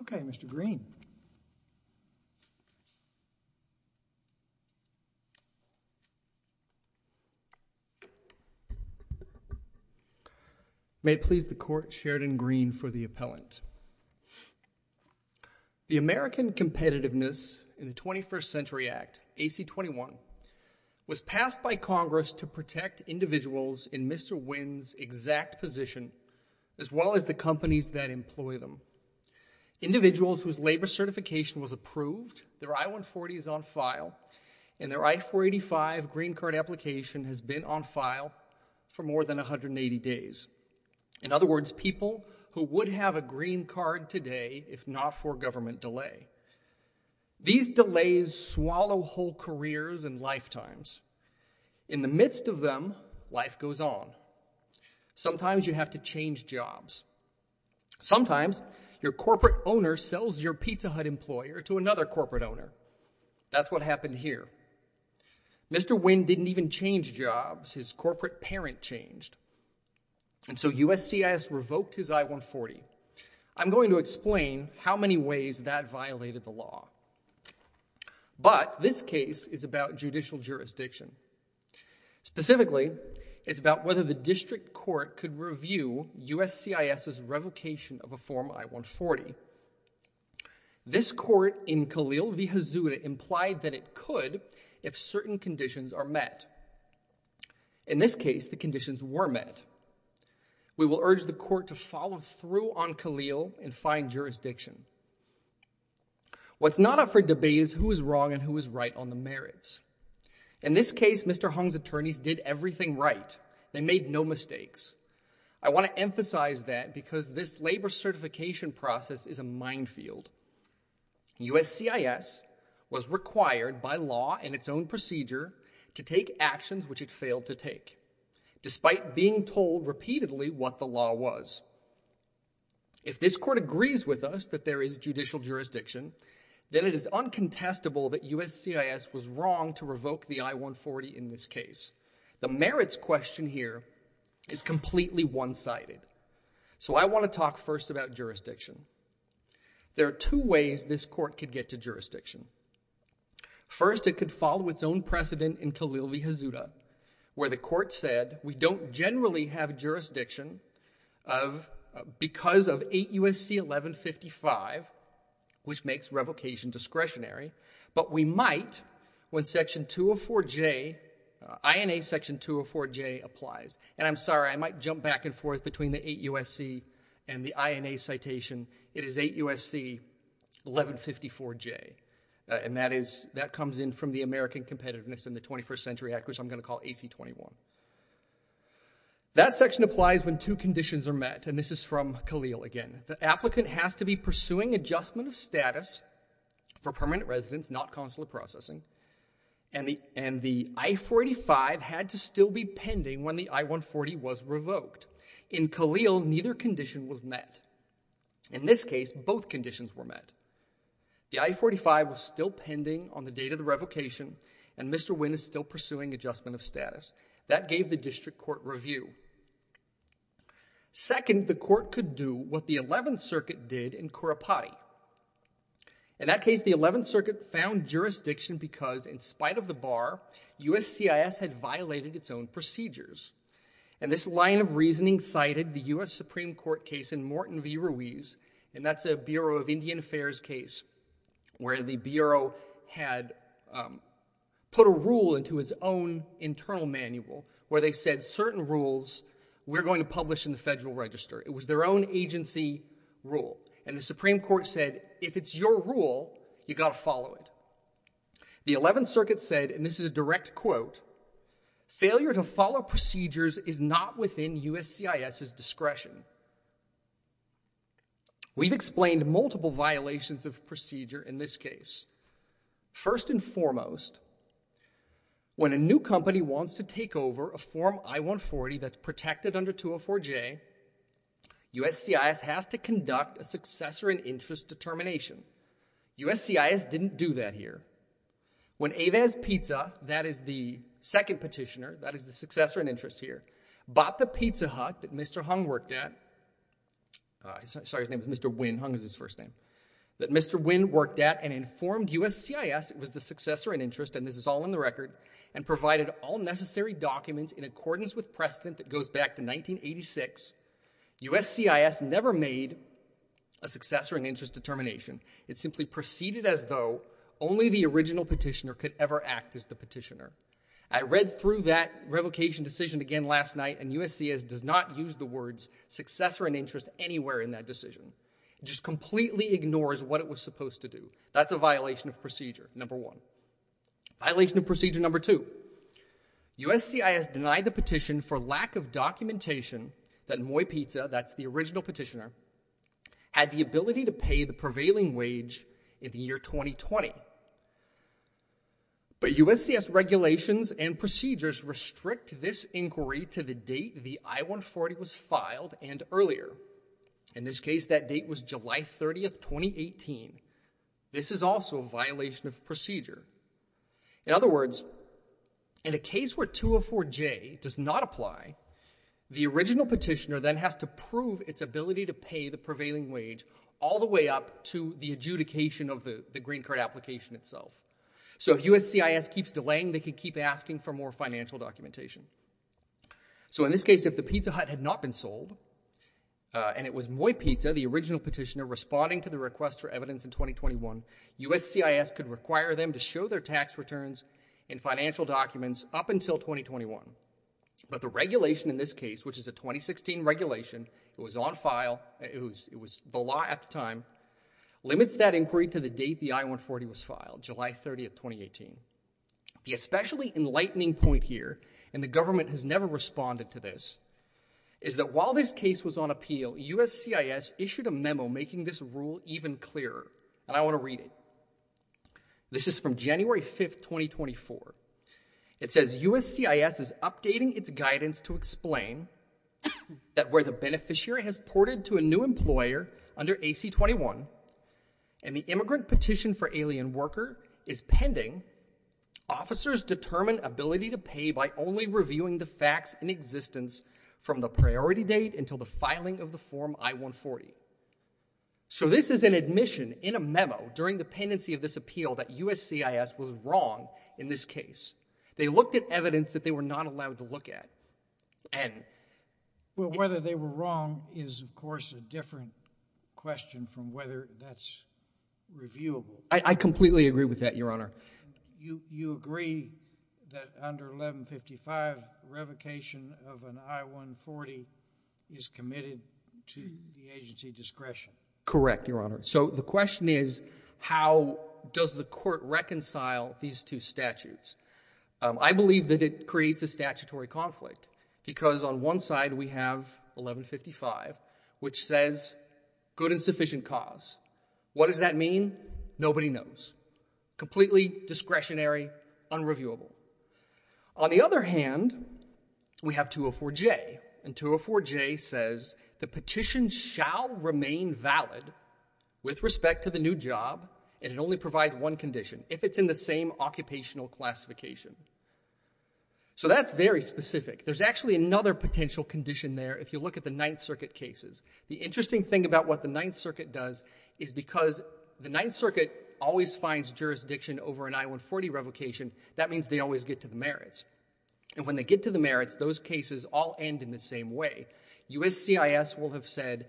Okay, Mr. Green. May it please the Court, Sheridan Green for the appellant. The American Competitiveness in the 21st Century Act, AC-21, was passed by Congress to protect individuals in Mr. Nguyen's exact position as well as the companies that employ them. Individuals whose labor certification was approved, their I-140 is on file, and their I-485 green card application has been on file for more than 180 days. In other words, people who would have a green card today if not for government delay. These delays swallow whole careers and lifetimes. In the midst of them, life goes on. Sometimes you have to change jobs. Sometimes your corporate owner sells your Pizza Hut employer to another corporate owner. That's what happened here. Mr. Nguyen didn't even change jobs. His corporate parent changed. And so USCIS revoked his I-140. I'm going to explain how many ways that violated the law. But this case is about judicial jurisdiction. Specifically, it's about whether the district court could review USCIS's revocation of a form I-140. This court in Khalil v. Hazur implied that it could if certain conditions are met. In this case, the conditions were met. We will urge the court to follow through on Khalil and find jurisdiction. What's not up for debate is who is wrong and who is right on the merits. In this case, Mr. Hung's attorneys did everything right. They made no mistakes. I want to emphasize that because this labor certification process is a minefield. USCIS was required by law in its own procedure to take actions which it failed to take, despite being told repeatedly what the law was. If this court agrees with us that there is judicial jurisdiction, then it is uncontestable that USCIS was wrong to revoke the I-140 in this case. The merits question here is completely one-sided. So I want to talk first about jurisdiction. There are two ways this court could get to jurisdiction. First, it could follow its own precedent in Khalil v. Hazur, where the court said we don't generally have jurisdiction of because of 8 U.S.C. 1155, which makes revocation discretionary, but we might when section 204J, INA section 204J applies. And I'm sorry, I might jump back and forth between the 8 U.S.C. and the INA citation. It is 8 U.S.C. 1154J, and that comes in from the American Competitiveness in the 21st Century Act, which I'm going to call AC-21. That section applies when two conditions are met, and this is from Khalil again. The applicant has to be pursuing adjustment of status for permanent residence, not consular processing, and the I-485 had to still be pending when the I-140 was revoked. In Khalil, neither condition was met. In this case, both conditions were met. The I-485 was still pending on the date of the revocation, and Mr. Wynn is still pursuing adjustment of status. That gave the district court review. Second, the court could do what the 11th Circuit did in Kurapati. In that case, the 11th Circuit found jurisdiction because, in spite of the bar, U.S.C.I.S. had violated its own procedures, and this line of reasoning cited the U.S. Supreme Court case in Morton v. Ruiz, and that's a Bureau of Indian Affairs case where the Bureau had put a rule into its own internal manual where they said certain rules we're going to publish in the Federal Register. It was their own agency rule, and the Supreme Court said, if it's your rule, you've got to follow it. The 11th Circuit said, and this is a direct quote, failure to follow procedures is not within U.S.C.I.S.'s discretion. We've explained multiple violations of procedure in this case. First and foremost, when a new company wants to take over a Form I-140 that's protected under 204J, U.S.C.I.S. has to conduct a successor in interest determination. U.S.C.I.S. didn't do that here. When Avez Pizza, that is the second petitioner, that is the successor in interest here, bought the pizza hut that Mr. Hung worked at, sorry, his name is Mr. Wynn, Hung is his first name, that Mr. Wynn worked at and informed U.S.C.I.S. it was the successor in interest, and this is all in the record, and provided all necessary documents in accordance with precedent that goes back to 1986, U.S.C.I.S. never made a successor in interest determination. It simply proceeded as though only the original petitioner could ever act as the petitioner. I read through that revocation decision again last night, and U.S.C.I.S. does not use the words successor in interest anywhere in that decision. It just completely ignores what it was supposed to do. That's a violation of procedure, number one. Violation of procedure number two, U.S.C.I.S. denied the petition for lack of documentation that Moy Pizza, that's the original petitioner, had the ability to pay the prevailing wage in the year 2020. But U.S.C.S. regulations and procedures restrict this inquiry to the date the I-140 was filed and earlier. In this case, that date was July 30th, 2018. This is also a violation of procedure. In other words, in a case where 204J does not apply, the original petitioner then has to prove its ability to pay the prevailing wage all the way up to the adjudication of the green card application itself. So if U.S.C.I.S. keeps delaying, they can keep asking for more financial documentation. So in this case, if the Pizza Hut had not been sold, and it was Moy Pizza, the original petitioner, responding to the request for evidence in 2021, U.S.C.I.S. could require them to show their tax returns and financial documents up until 2021. But the regulation in this case, which is a 2016 regulation, it was on file, it was the law at the time, limits that inquiry to the date the I-140 was filed, July 30th, 2018. The especially enlightening point here, and the government has never responded to this, is that while this case was on appeal, U.S.C.I.S. issued a memo making this rule even clearer. And I want to read it. This is from January 5th, 2024. It says, U.S.C.I.S. is updating its guidance to explain that where the beneficiary has ported to a new employer under AC-21, and the immigrant petition for alien worker is pending, officers determine ability to pay by only reviewing the facts in existence from the priority date until the filing of the form I-140. So this is an admission in a memo during the pendency of this appeal that U.S.C.I.S. was wrong in this case. They looked at evidence that they were not allowed to look at, and... Well, whether they were wrong is, of course, a different question from whether that's reviewable. I completely agree with that, Your Honor. You agree that under 1155, revocation of an I-140 is committed to the agency discretion? Correct, Your Honor. So the question is, how does the court reconcile these two statutes? I believe that it creates a statutory conflict, because on one side we have 1155, which says, good and sufficient cause. What does that mean? Nobody knows. Completely discretionary, unreviewable. On the other hand, we have 204J, and 204J says the petition shall remain valid with respect to the new job, and it only provides one condition, if it's in the same occupational classification. So that's very specific. There's actually another potential condition there if you look at the Ninth Circuit cases. The interesting thing about what the Ninth Circuit does is because the Ninth Circuit does not always get to the merits, and when they get to the merits, those cases all end in the same way. USCIS will have said,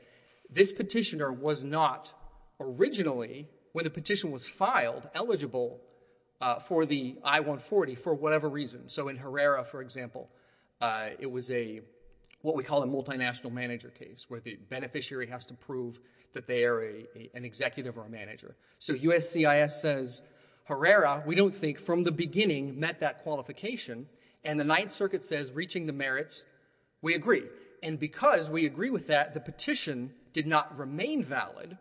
this petitioner was not originally, when the petition was filed, eligible for the I-140 for whatever reason. So in Herrera, for example, it was a, what we call a multinational manager case, where the beneficiary has to prove that they are an executive or a manager. So USCIS says, Herrera, we don't think from the beginning met that qualification. And the Ninth Circuit says, reaching the merits, we agree. And because we agree with that, the petition did not remain valid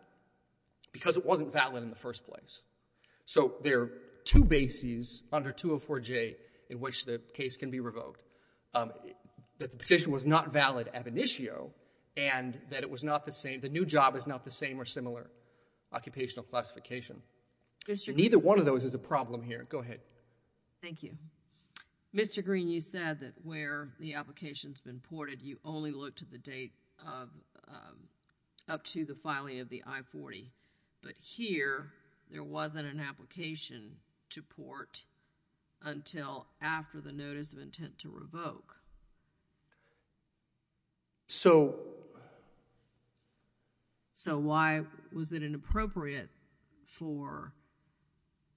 because it wasn't valid in the first place. So there are two bases under 204J in which the case can be revoked, that the petition was not valid ab initio, and that it was not the same, the new job is not the same or similar occupational classification. Neither one of those is a problem here. Go ahead. Thank you. Mr. Green, you said that where the application's been ported, you only look to the date of, up to the filing of the I-40. But here, there wasn't an application to port until after the notice of intent to revoke. So, so why was it inappropriate for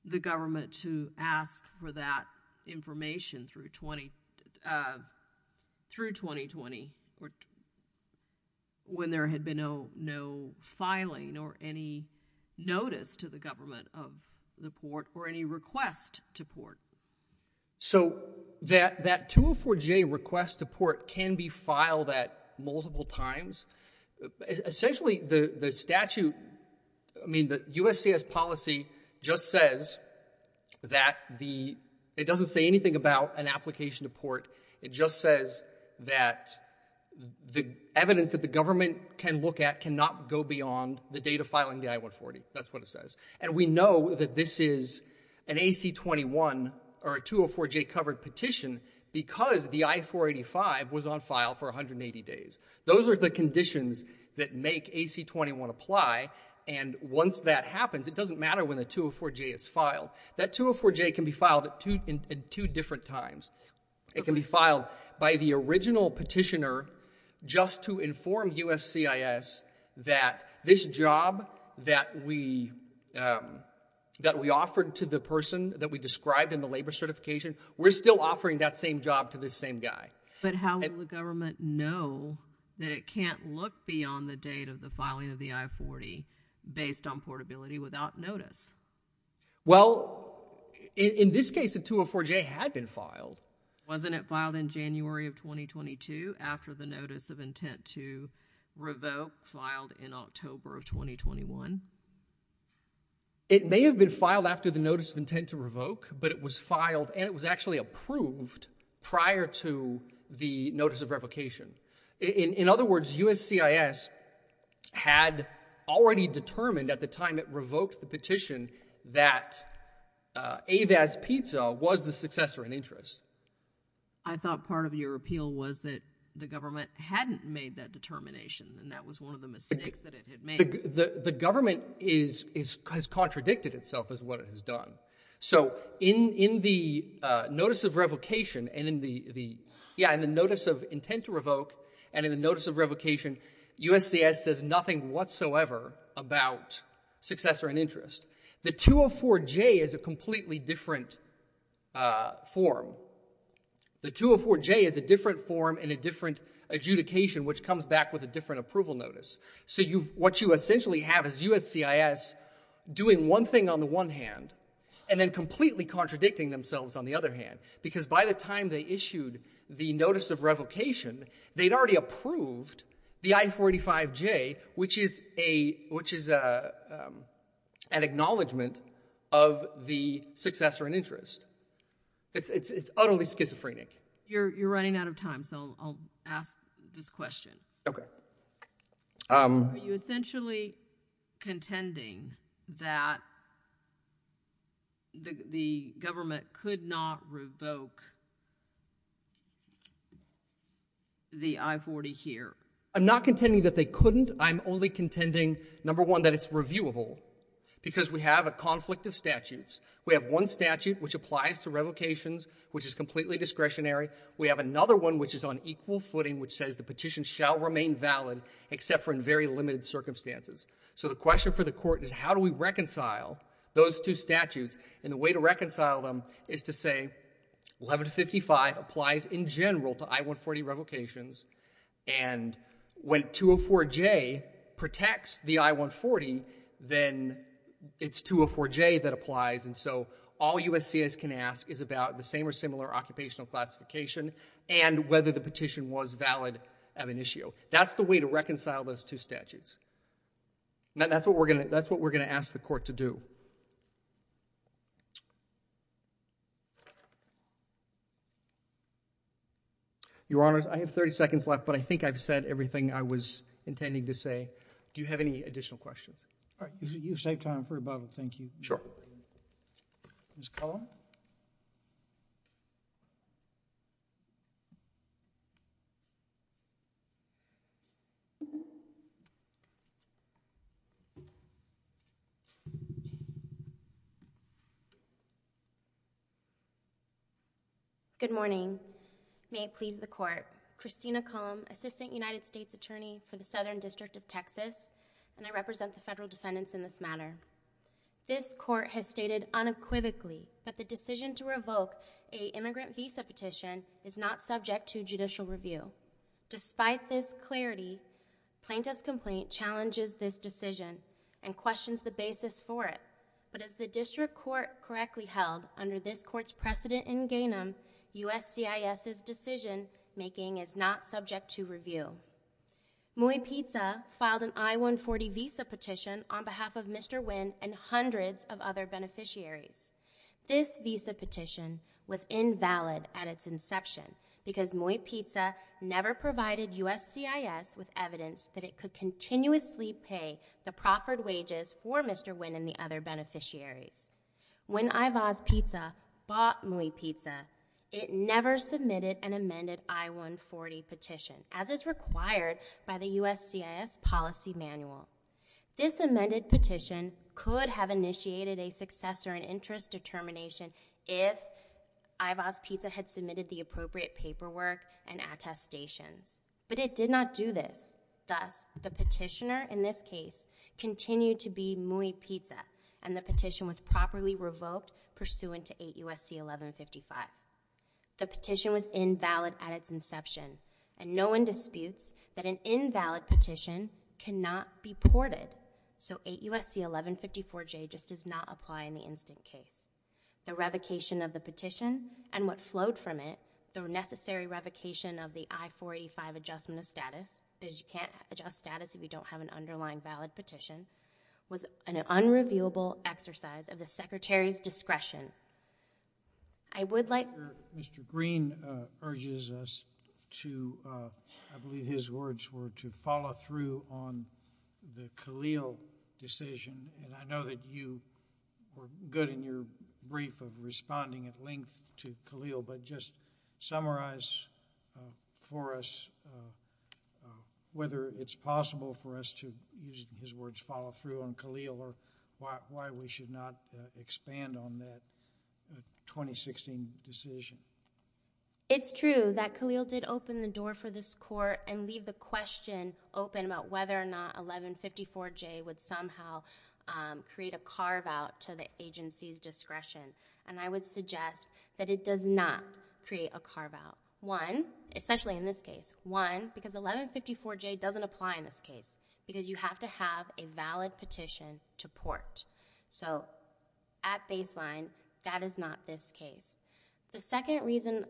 the government to ask for that information through 2020 when there had been no filing or any notice to the government of the port or any request to port? So that 204J request to port can be filed at multiple times. Essentially, the statute, I mean, the USCIS policy just says that the, it doesn't say anything about an application to port. It just says that the evidence that the government can look at cannot go beyond the date of filing the I-140. That's what it says. And we know that this is an AC-21 or a 204J covered petition because the I-485 was on file for 180 days. Those are the conditions that make AC-21 apply. And once that happens, it doesn't matter when the 204J is filed. That 204J can be filed at two different times. It can be filed by the original petitioner just to inform USCIS that this job that we, that we offered to the person that we described in the labor certification, we're still offering that same job to this same guy. But how will the government know that it can't look beyond the date of the filing of the I-40 based on portability without notice? Well, in this case, the 204J had been filed. Wasn't it filed in January of 2022 after the notice of intent to revoke filed in October of 2021? It may have been filed after the notice of intent to revoke, but it was filed and it was actually approved prior to the notice of revocation. In other words, USCIS had already determined at the time it revoked the petition that Avaz Pizza was the successor in interest. I thought part of your appeal was that the government hadn't made that determination and that was one of the mistakes that it had made. The government is, has contradicted itself as what it has done. So in, in the notice of revocation and in the, the, yeah, in the notice of intent to revoke and in the notice of revocation, USCIS says nothing whatsoever about successor in interest. The 204J is a completely different form. The 204J is a different form and a different adjudication, which comes back with a different approval notice. So you've, what you essentially have is USCIS doing one thing on the one hand and then completely contradicting themselves on the other hand, because by the time they issued the notice of revocation, they'd already approved the I-45J, which is a, which is a, um, an acknowledgement of the successor in interest. It's, it's, it's utterly schizophrenic. You're, you're running out of time. So I'll ask this question. Okay. Um. Are you essentially contending that the, the government could not revoke the I-40 here? I'm not contending that they couldn't. I'm only contending, number one, that it's reviewable because we have a conflict of statutes. We have one statute, which applies to revocations, which is completely discretionary. We have another one, which is on equal footing, which says the petition shall remain valid except for in very limited circumstances. So the question for the court is how do we reconcile those two statutes? And the way to reconcile them is to say 1155 applies in general to I-140 revocations. And when 204J protects the I-140, then it's 204J that applies. And so all USCIS can ask is about the same or similar occupational classification and whether the petition was valid of an issue. That's the way to reconcile those two statutes. And that's what we're going to, that's what we're going to ask the court to do. Your Honors, I have 30 seconds left, but I think I've said everything I was intending to say. Do you have any additional questions? All right. You've saved time for the questions, so thank you. Sure. Ms. Cullum? Good morning. May it please the Court. Christina Cullum, Assistant United States Attorney for the District of Columbia. This Court has stated unequivocally that the decision to revoke a immigrant visa petition is not subject to judicial review. Despite this clarity, plaintiff's complaint challenges this decision and questions the basis for it. But as the District Court correctly held under this Court's precedent in Ganem, USCIS's decision-making is not subject to review. Muy Pizza filed an I-140 visa petition on behalf of Mr. Nguyen and hundreds of other beneficiaries. This visa petition was invalid at its inception because Muy Pizza never provided USCIS with evidence that it could continuously pay the proffered wages for Mr. Nguyen and the other as is required by the USCIS policy manual. This amended petition could have initiated a successor and interest determination if Ivos Pizza had submitted the appropriate paperwork and attestations, but it did not do this. Thus, the petitioner in this case continued to be Muy Pizza, and the petition was properly revoked pursuant to 8 U.S.C. 1155. The petition was invalid at its inception, and no one disputes that an invalid petition cannot be ported, so 8 U.S.C. 1154J just does not apply in the instant case. The revocation of the petition and what flowed from it, the necessary revocation of the I-485 adjustment of status, because you can't adjust status if you don't have an underlying valid petition, was an unreviewable exercise of the Secretary's discretion. I would like— Mr. Green urges us to—I believe his words were to follow through on the Khalil decision, and I know that you were good in your brief of responding at length to Khalil, but just summarize for us whether it's possible for us to, using his words, follow through on Khalil or why we should not expand on that 2016 decision. It's true that Khalil did open the door for this Court and leave the question open about whether or not 1154J would somehow create a carve-out to the agency's discretion, and I would suggest that it does not create a carve-out. One, especially in this case, one, because 1154J doesn't apply in this case because you have to have a valid petition to So, at baseline, that is not this case. The second reason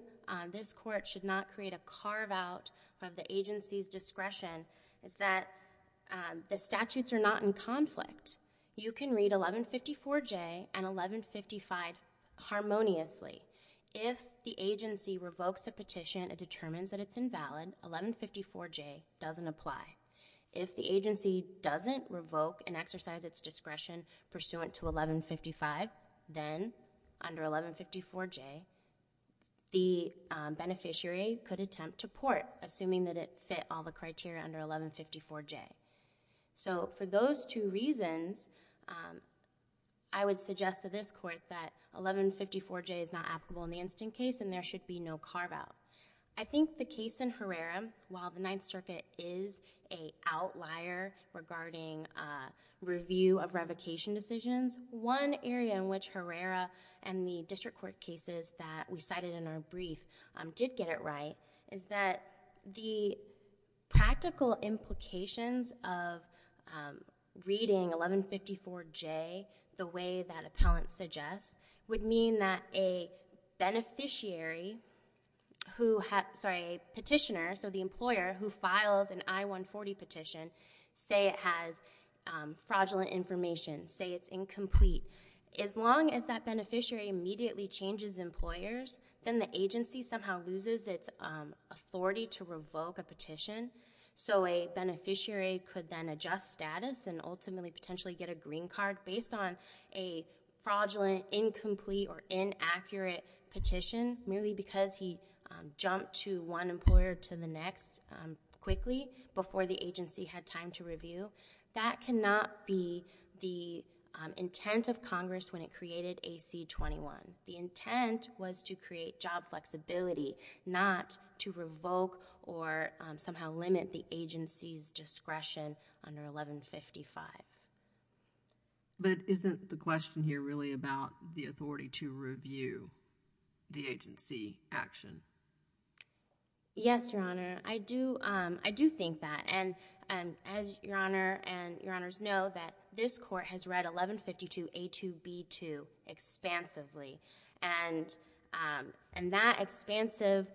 this Court should not create a carve-out of the agency's discretion is that the statutes are not in conflict. You can read 1154J and 1155 harmoniously. If the agency revokes a petition and determines that it's invalid, 1154J doesn't apply. If the agency doesn't revoke and exercise its discretion pursuant to 1155, then under 1154J, the beneficiary could attempt to port, assuming that it fit all the criteria under 1154J. So, for those two reasons, I would suggest to this Court that 1154J is not applicable in the instant case and there should be no carve-out. I think the case in Herrera, while the Ninth Circuit is a outlier regarding review of revocation decisions, one area in which Herrera and the district court cases that we cited in our brief did get it right is that the practical implications of reading 1154J the way that appellant suggests would mean that a petitioner, so the employer, who files an I-140 petition, say it has fraudulent information, say it's incomplete. As long as that beneficiary immediately changes employers, then the agency somehow loses its authority to revoke a petition, so a beneficiary could then adjust status and ultimately potentially get a green card based on a fraudulent, incomplete, or inaccurate petition merely because he jumped to one employer to the next quickly before the agency had time to review. That cannot be the intent of Congress when it created AC-21. The intent was to create job flexibility, not to revoke or somehow limit the agency's discretion under 1155. But isn't the question here really about the authority to review the agency action? Yes, Your Honor. I do think that, and as Your Honor and Your Honors know, that this court has read 1152A2B2 expansively, and that expansive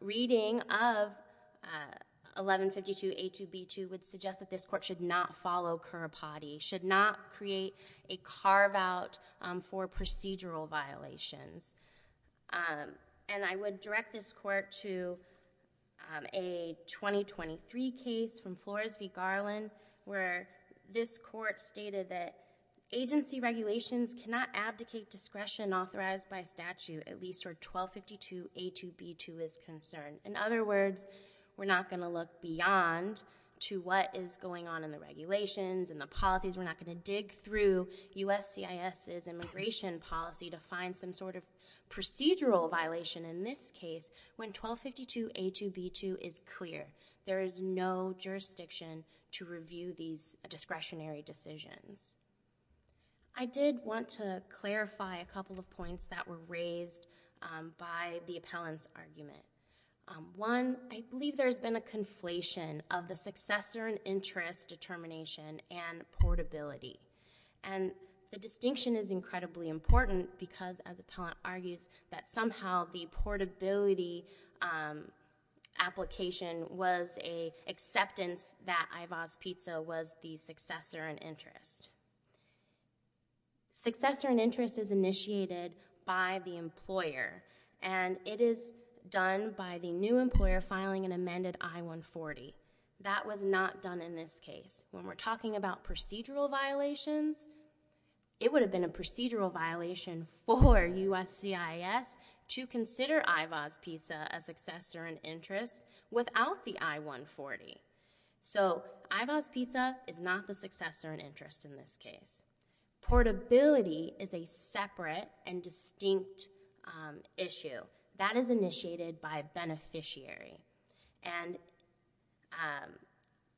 reading of 1152A2B2 would suggest that this court should not follow Currapati, should not create a carve-out for procedural violations. And I would direct this court to a 2023 case from Flores v. Garland where this court stated that agency regulations cannot abdicate discretion authorized by statute at least for 1252A2B2 is concerned. In other words, we're not going to look beyond to what is going on in the regulations and the policies. We're not going to dig through USCIS's immigration policy to find some sort of procedural violation in this case when 1252A2B2 is clear. There is no jurisdiction to review these discretionary decisions. I did want to clarify a couple of points that were raised by the appellant's argument. One, I believe there's been a conflation of the successor and interest determination and portability. And the distinction is incredibly important because, as the appellant argues, that somehow the portability application was an acceptance that IVAS-PTSA was the successor and interest. Successor and interest is initiated by the employer and it is done by the new employer filing an amended I-140. That was not done in this case. When we're talking about procedural violations, it would have been a procedural violation for USCIS to consider IVAS-PTSA a successor and interest without the I-140. So IVAS-PTSA is not the successor and interest in this case. Portability is a separate and distinct issue. That is initiated by a beneficiary. And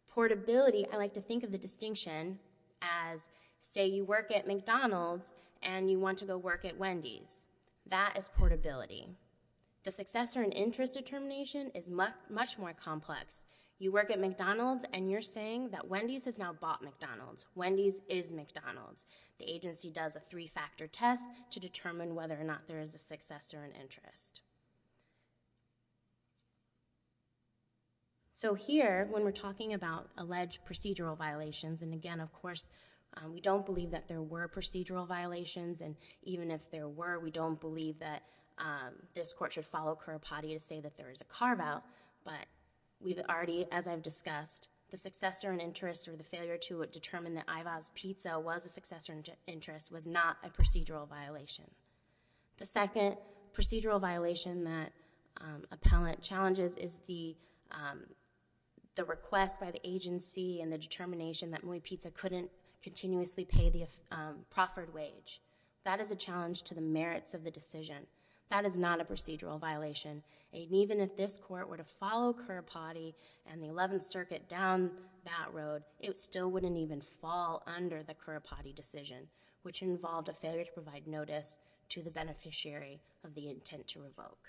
portability, I like to think of the distinction as, say, you work at McDonald's and you want to go work at Wendy's. That is portability. The successor and interest determination is much more complex. You work at McDonald's and you're saying that Wendy's has now bought McDonald's. Wendy's is McDonald's. The agency does a three-factor test to determine whether or not there is a successor and interest. So here, when we're talking about alleged procedural violations, and again, of course, we don't believe that there were procedural violations. And even if there were, we don't believe that this court should follow Currapati to say that there is a carve-out. But we've already, as I've discussed, the successor and interest or the failure to determine that IVAS-PTSA was a successor and interest was not a procedural violation. The second procedural violation that appellant challenges is the the request by the agency and the determination that Mui Ptsa couldn't continuously pay the proffered wage. That is a challenge to the merits of the decision. That is not a procedural violation. And even if this court were to follow Currapati and the 11th Circuit down that road, it still wouldn't even fall under the Currapati decision, which involved a failure to provide to the beneficiary of the intent to revoke.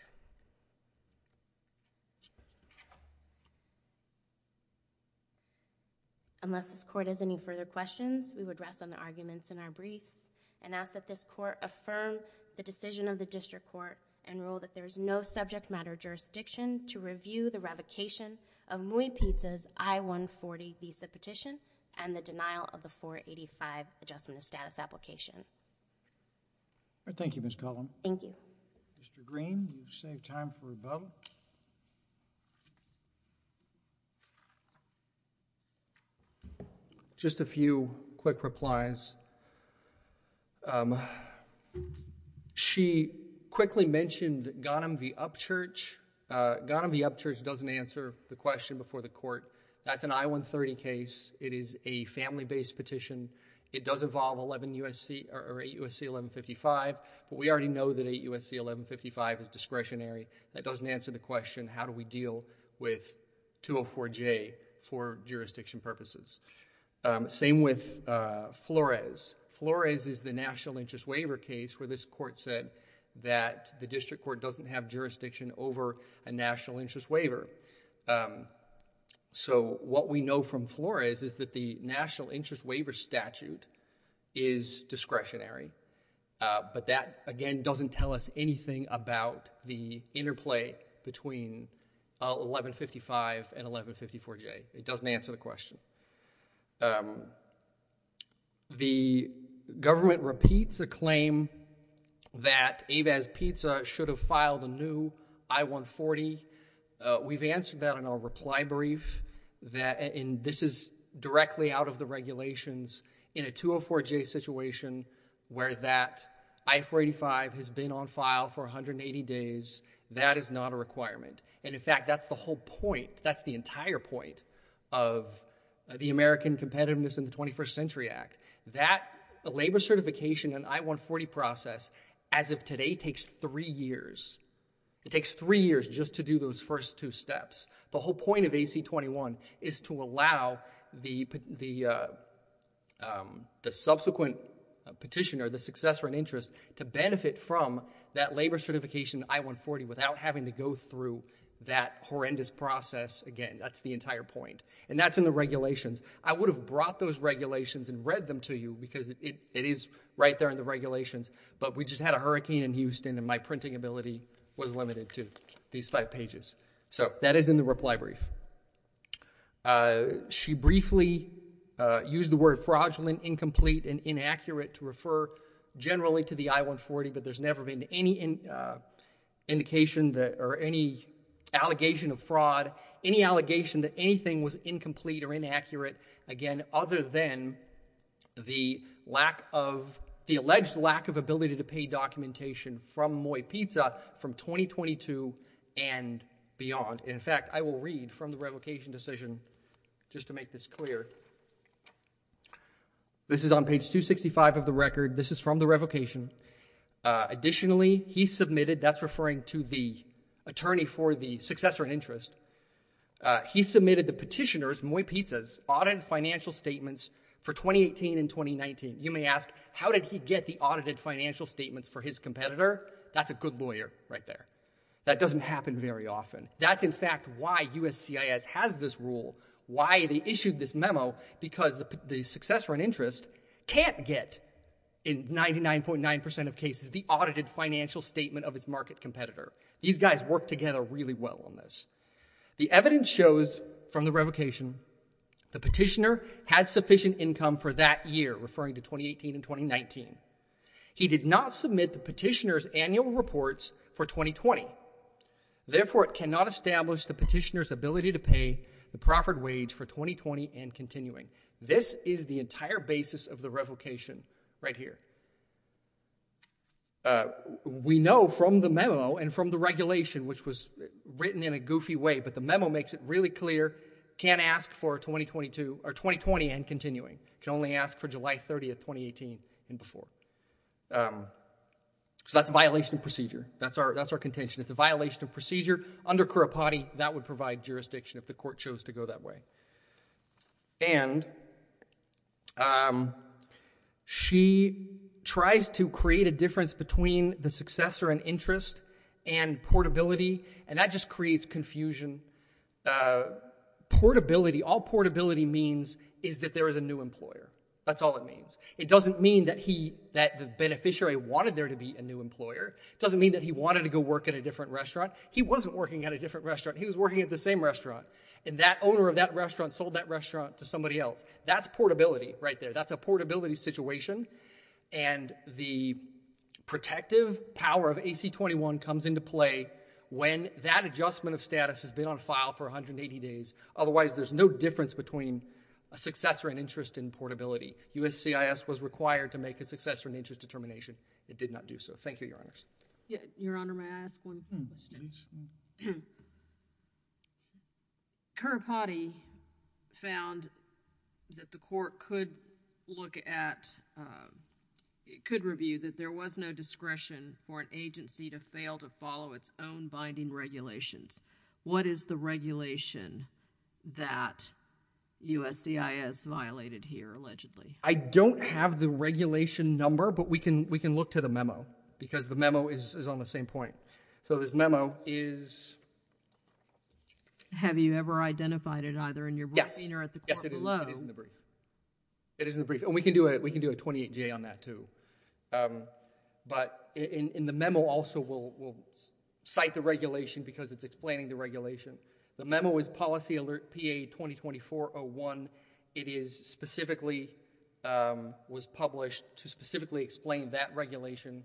Unless this court has any further questions, we would rest on the arguments in our briefs and ask that this court affirm the decision of the district court and rule that there is no subject matter jurisdiction to review the revocation of Mui Ptsa's I-140 visa petition and the denial of the 485 Adjustment of Status application. Thank you, Ms. Collin. Thank you. Mr. Green, you've saved time for a vote. Just a few quick replies. She quickly mentioned Ghanem v. Upchurch. Ghanem v. Upchurch doesn't answer the question before the court. That's an I-130 case. It is a family-based petition. It does involve 8 U.S.C. 1155, but we already know that 8 U.S.C. 1155 is discretionary. That doesn't answer the question, how do we deal with 204J for jurisdiction purposes? Same with Flores. Flores is the National Interest Waiver case where this court said that the district court doesn't have jurisdiction over a National Interest Waiver. So what we know from Flores is that the National Interest Waiver statute is discretionary, but that, again, doesn't tell us anything about the interplay between 1155 and 1154J. It doesn't answer the question. The government repeats a claim that Avaz-Ptsa should have filed a new I-140. We've answered that in our reply brief, and this is directly out of the regulations. In a 204J situation where that I-485 has been on file for 180 days, that is not a requirement. And, in fact, that's the whole point. That's the entire point of the American Competitiveness in the 21st Century Act. That labor certification and I-140 process, as of today, takes three years. It takes three years just to do those first two steps. The whole point of AC-21 is to allow the subsequent petitioner, the successor in interest, to benefit from that labor certification I-140 without having to go through that horrendous process again. That's the entire point. And that's in the regulations. I would have brought those regulations and read them to you because it is right there in the regulations, but we just had a hurricane in Houston and my printing ability was limited to these five pages. So that is in the reply brief. She briefly used the word fraudulent, incomplete, and inaccurate to refer generally to the I-140, but there's never been any indication or any allegation of fraud, any allegation that anything was incomplete or inaccurate, again, other than the lack of, the alleged lack of ability to pay documentation from Moy Pizza from 2022 and beyond. In fact, I will read from the revocation decision just to make this clear. This is on page 265 of the record. This is from the revocation. Additionally, he submitted, that's referring to the attorney for the successor in interest, he submitted the petitioner's, Moy Pizza's, audited financial statements for 2018 and 2019. You may ask, how did he get the audited financial statements for his competitor? That's a good lawyer right there. That doesn't happen very often. That's in fact why USCIS has this rule, why they issued this memo, because the successor in interest can't get in 99.9% of cases the audited financial statement of his market competitor. These guys work together really well on this. The evidence shows from the revocation, the petitioner had sufficient income for that year, referring to 2018 and 2019. He did not submit the petitioner's annual reports for 2020. Therefore, it cannot establish the petitioner's ability to pay the proffered wage for 2020 and continuing. This is the entire basis of the revocation right here. We know from the memo and from the regulation, which was written in a goofy way, but the memo makes it really clear, can't ask for 2022, or 2020 and continuing. Can only ask for July 30, 2018 and before. So that's a violation of procedure. That's our contention. It's a violation of procedure. Under Cura Pati, that would provide jurisdiction if the court chose to go that way. And she tries to create a difference between the successor in interest and portability, and that just creates confusion. Portability, all portability means is that there is a new employer. That's all it means. It doesn't mean that the beneficiary wanted there to be a new employer. It doesn't mean that he wanted to go work at a different restaurant. He wasn't working at a different restaurant. And that owner of that restaurant sold that restaurant to somebody else. That's portability right there. That's a portability situation. And the protective power of AC-21 comes into play when that adjustment of status has been on file for 180 days. Otherwise, there's no difference between a successor in interest and portability. USCIS was required to make a successor in interest determination. It did not do so. Thank you, Your Honors. Your Honor, may I ask one question? Cura Pati found that the court could look at, could review that there was no discretion for an agency to fail to follow its own binding regulations. What is the regulation that USCIS violated here, allegedly? I don't have the regulation number, but we can look to the memo because the memo is on the same point. So this memo is... Have you ever identified it either in your briefing or at the court below? Yes. Yes, it is in the brief. It is in the brief. And we can do a 28-J on that too. But in the memo also, we'll cite the regulation because it's explaining the regulation. The memo is Policy Alert PA-2024-01. It is specifically, was published to specifically explain that regulation.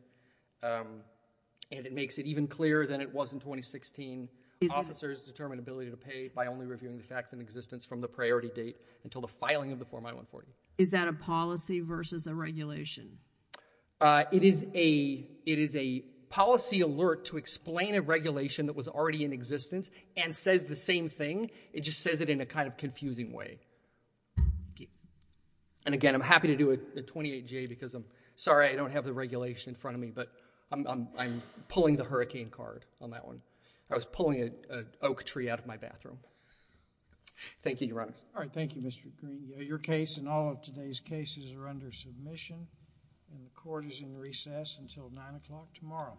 And it makes it even clearer than it was in 2016. Officers determined ability to pay by only reviewing the facts in existence from the priority date until the filing of the Form I-140. Is that a policy versus a regulation? It is a policy alert to explain a regulation that was already in existence and says the same thing. It just says it in a kind of confusing way. Thank you. And again, I'm happy to do a 28-J because I'm sorry I don't have the regulation in front of me, but I'm pulling the hurricane card on that one. I was pulling an oak tree out of my bathroom. Thank you, Your Honor. All right. Thank you, Mr. Green. Your case and all of today's cases are under submission and the court is in recess until 9 o'clock tomorrow.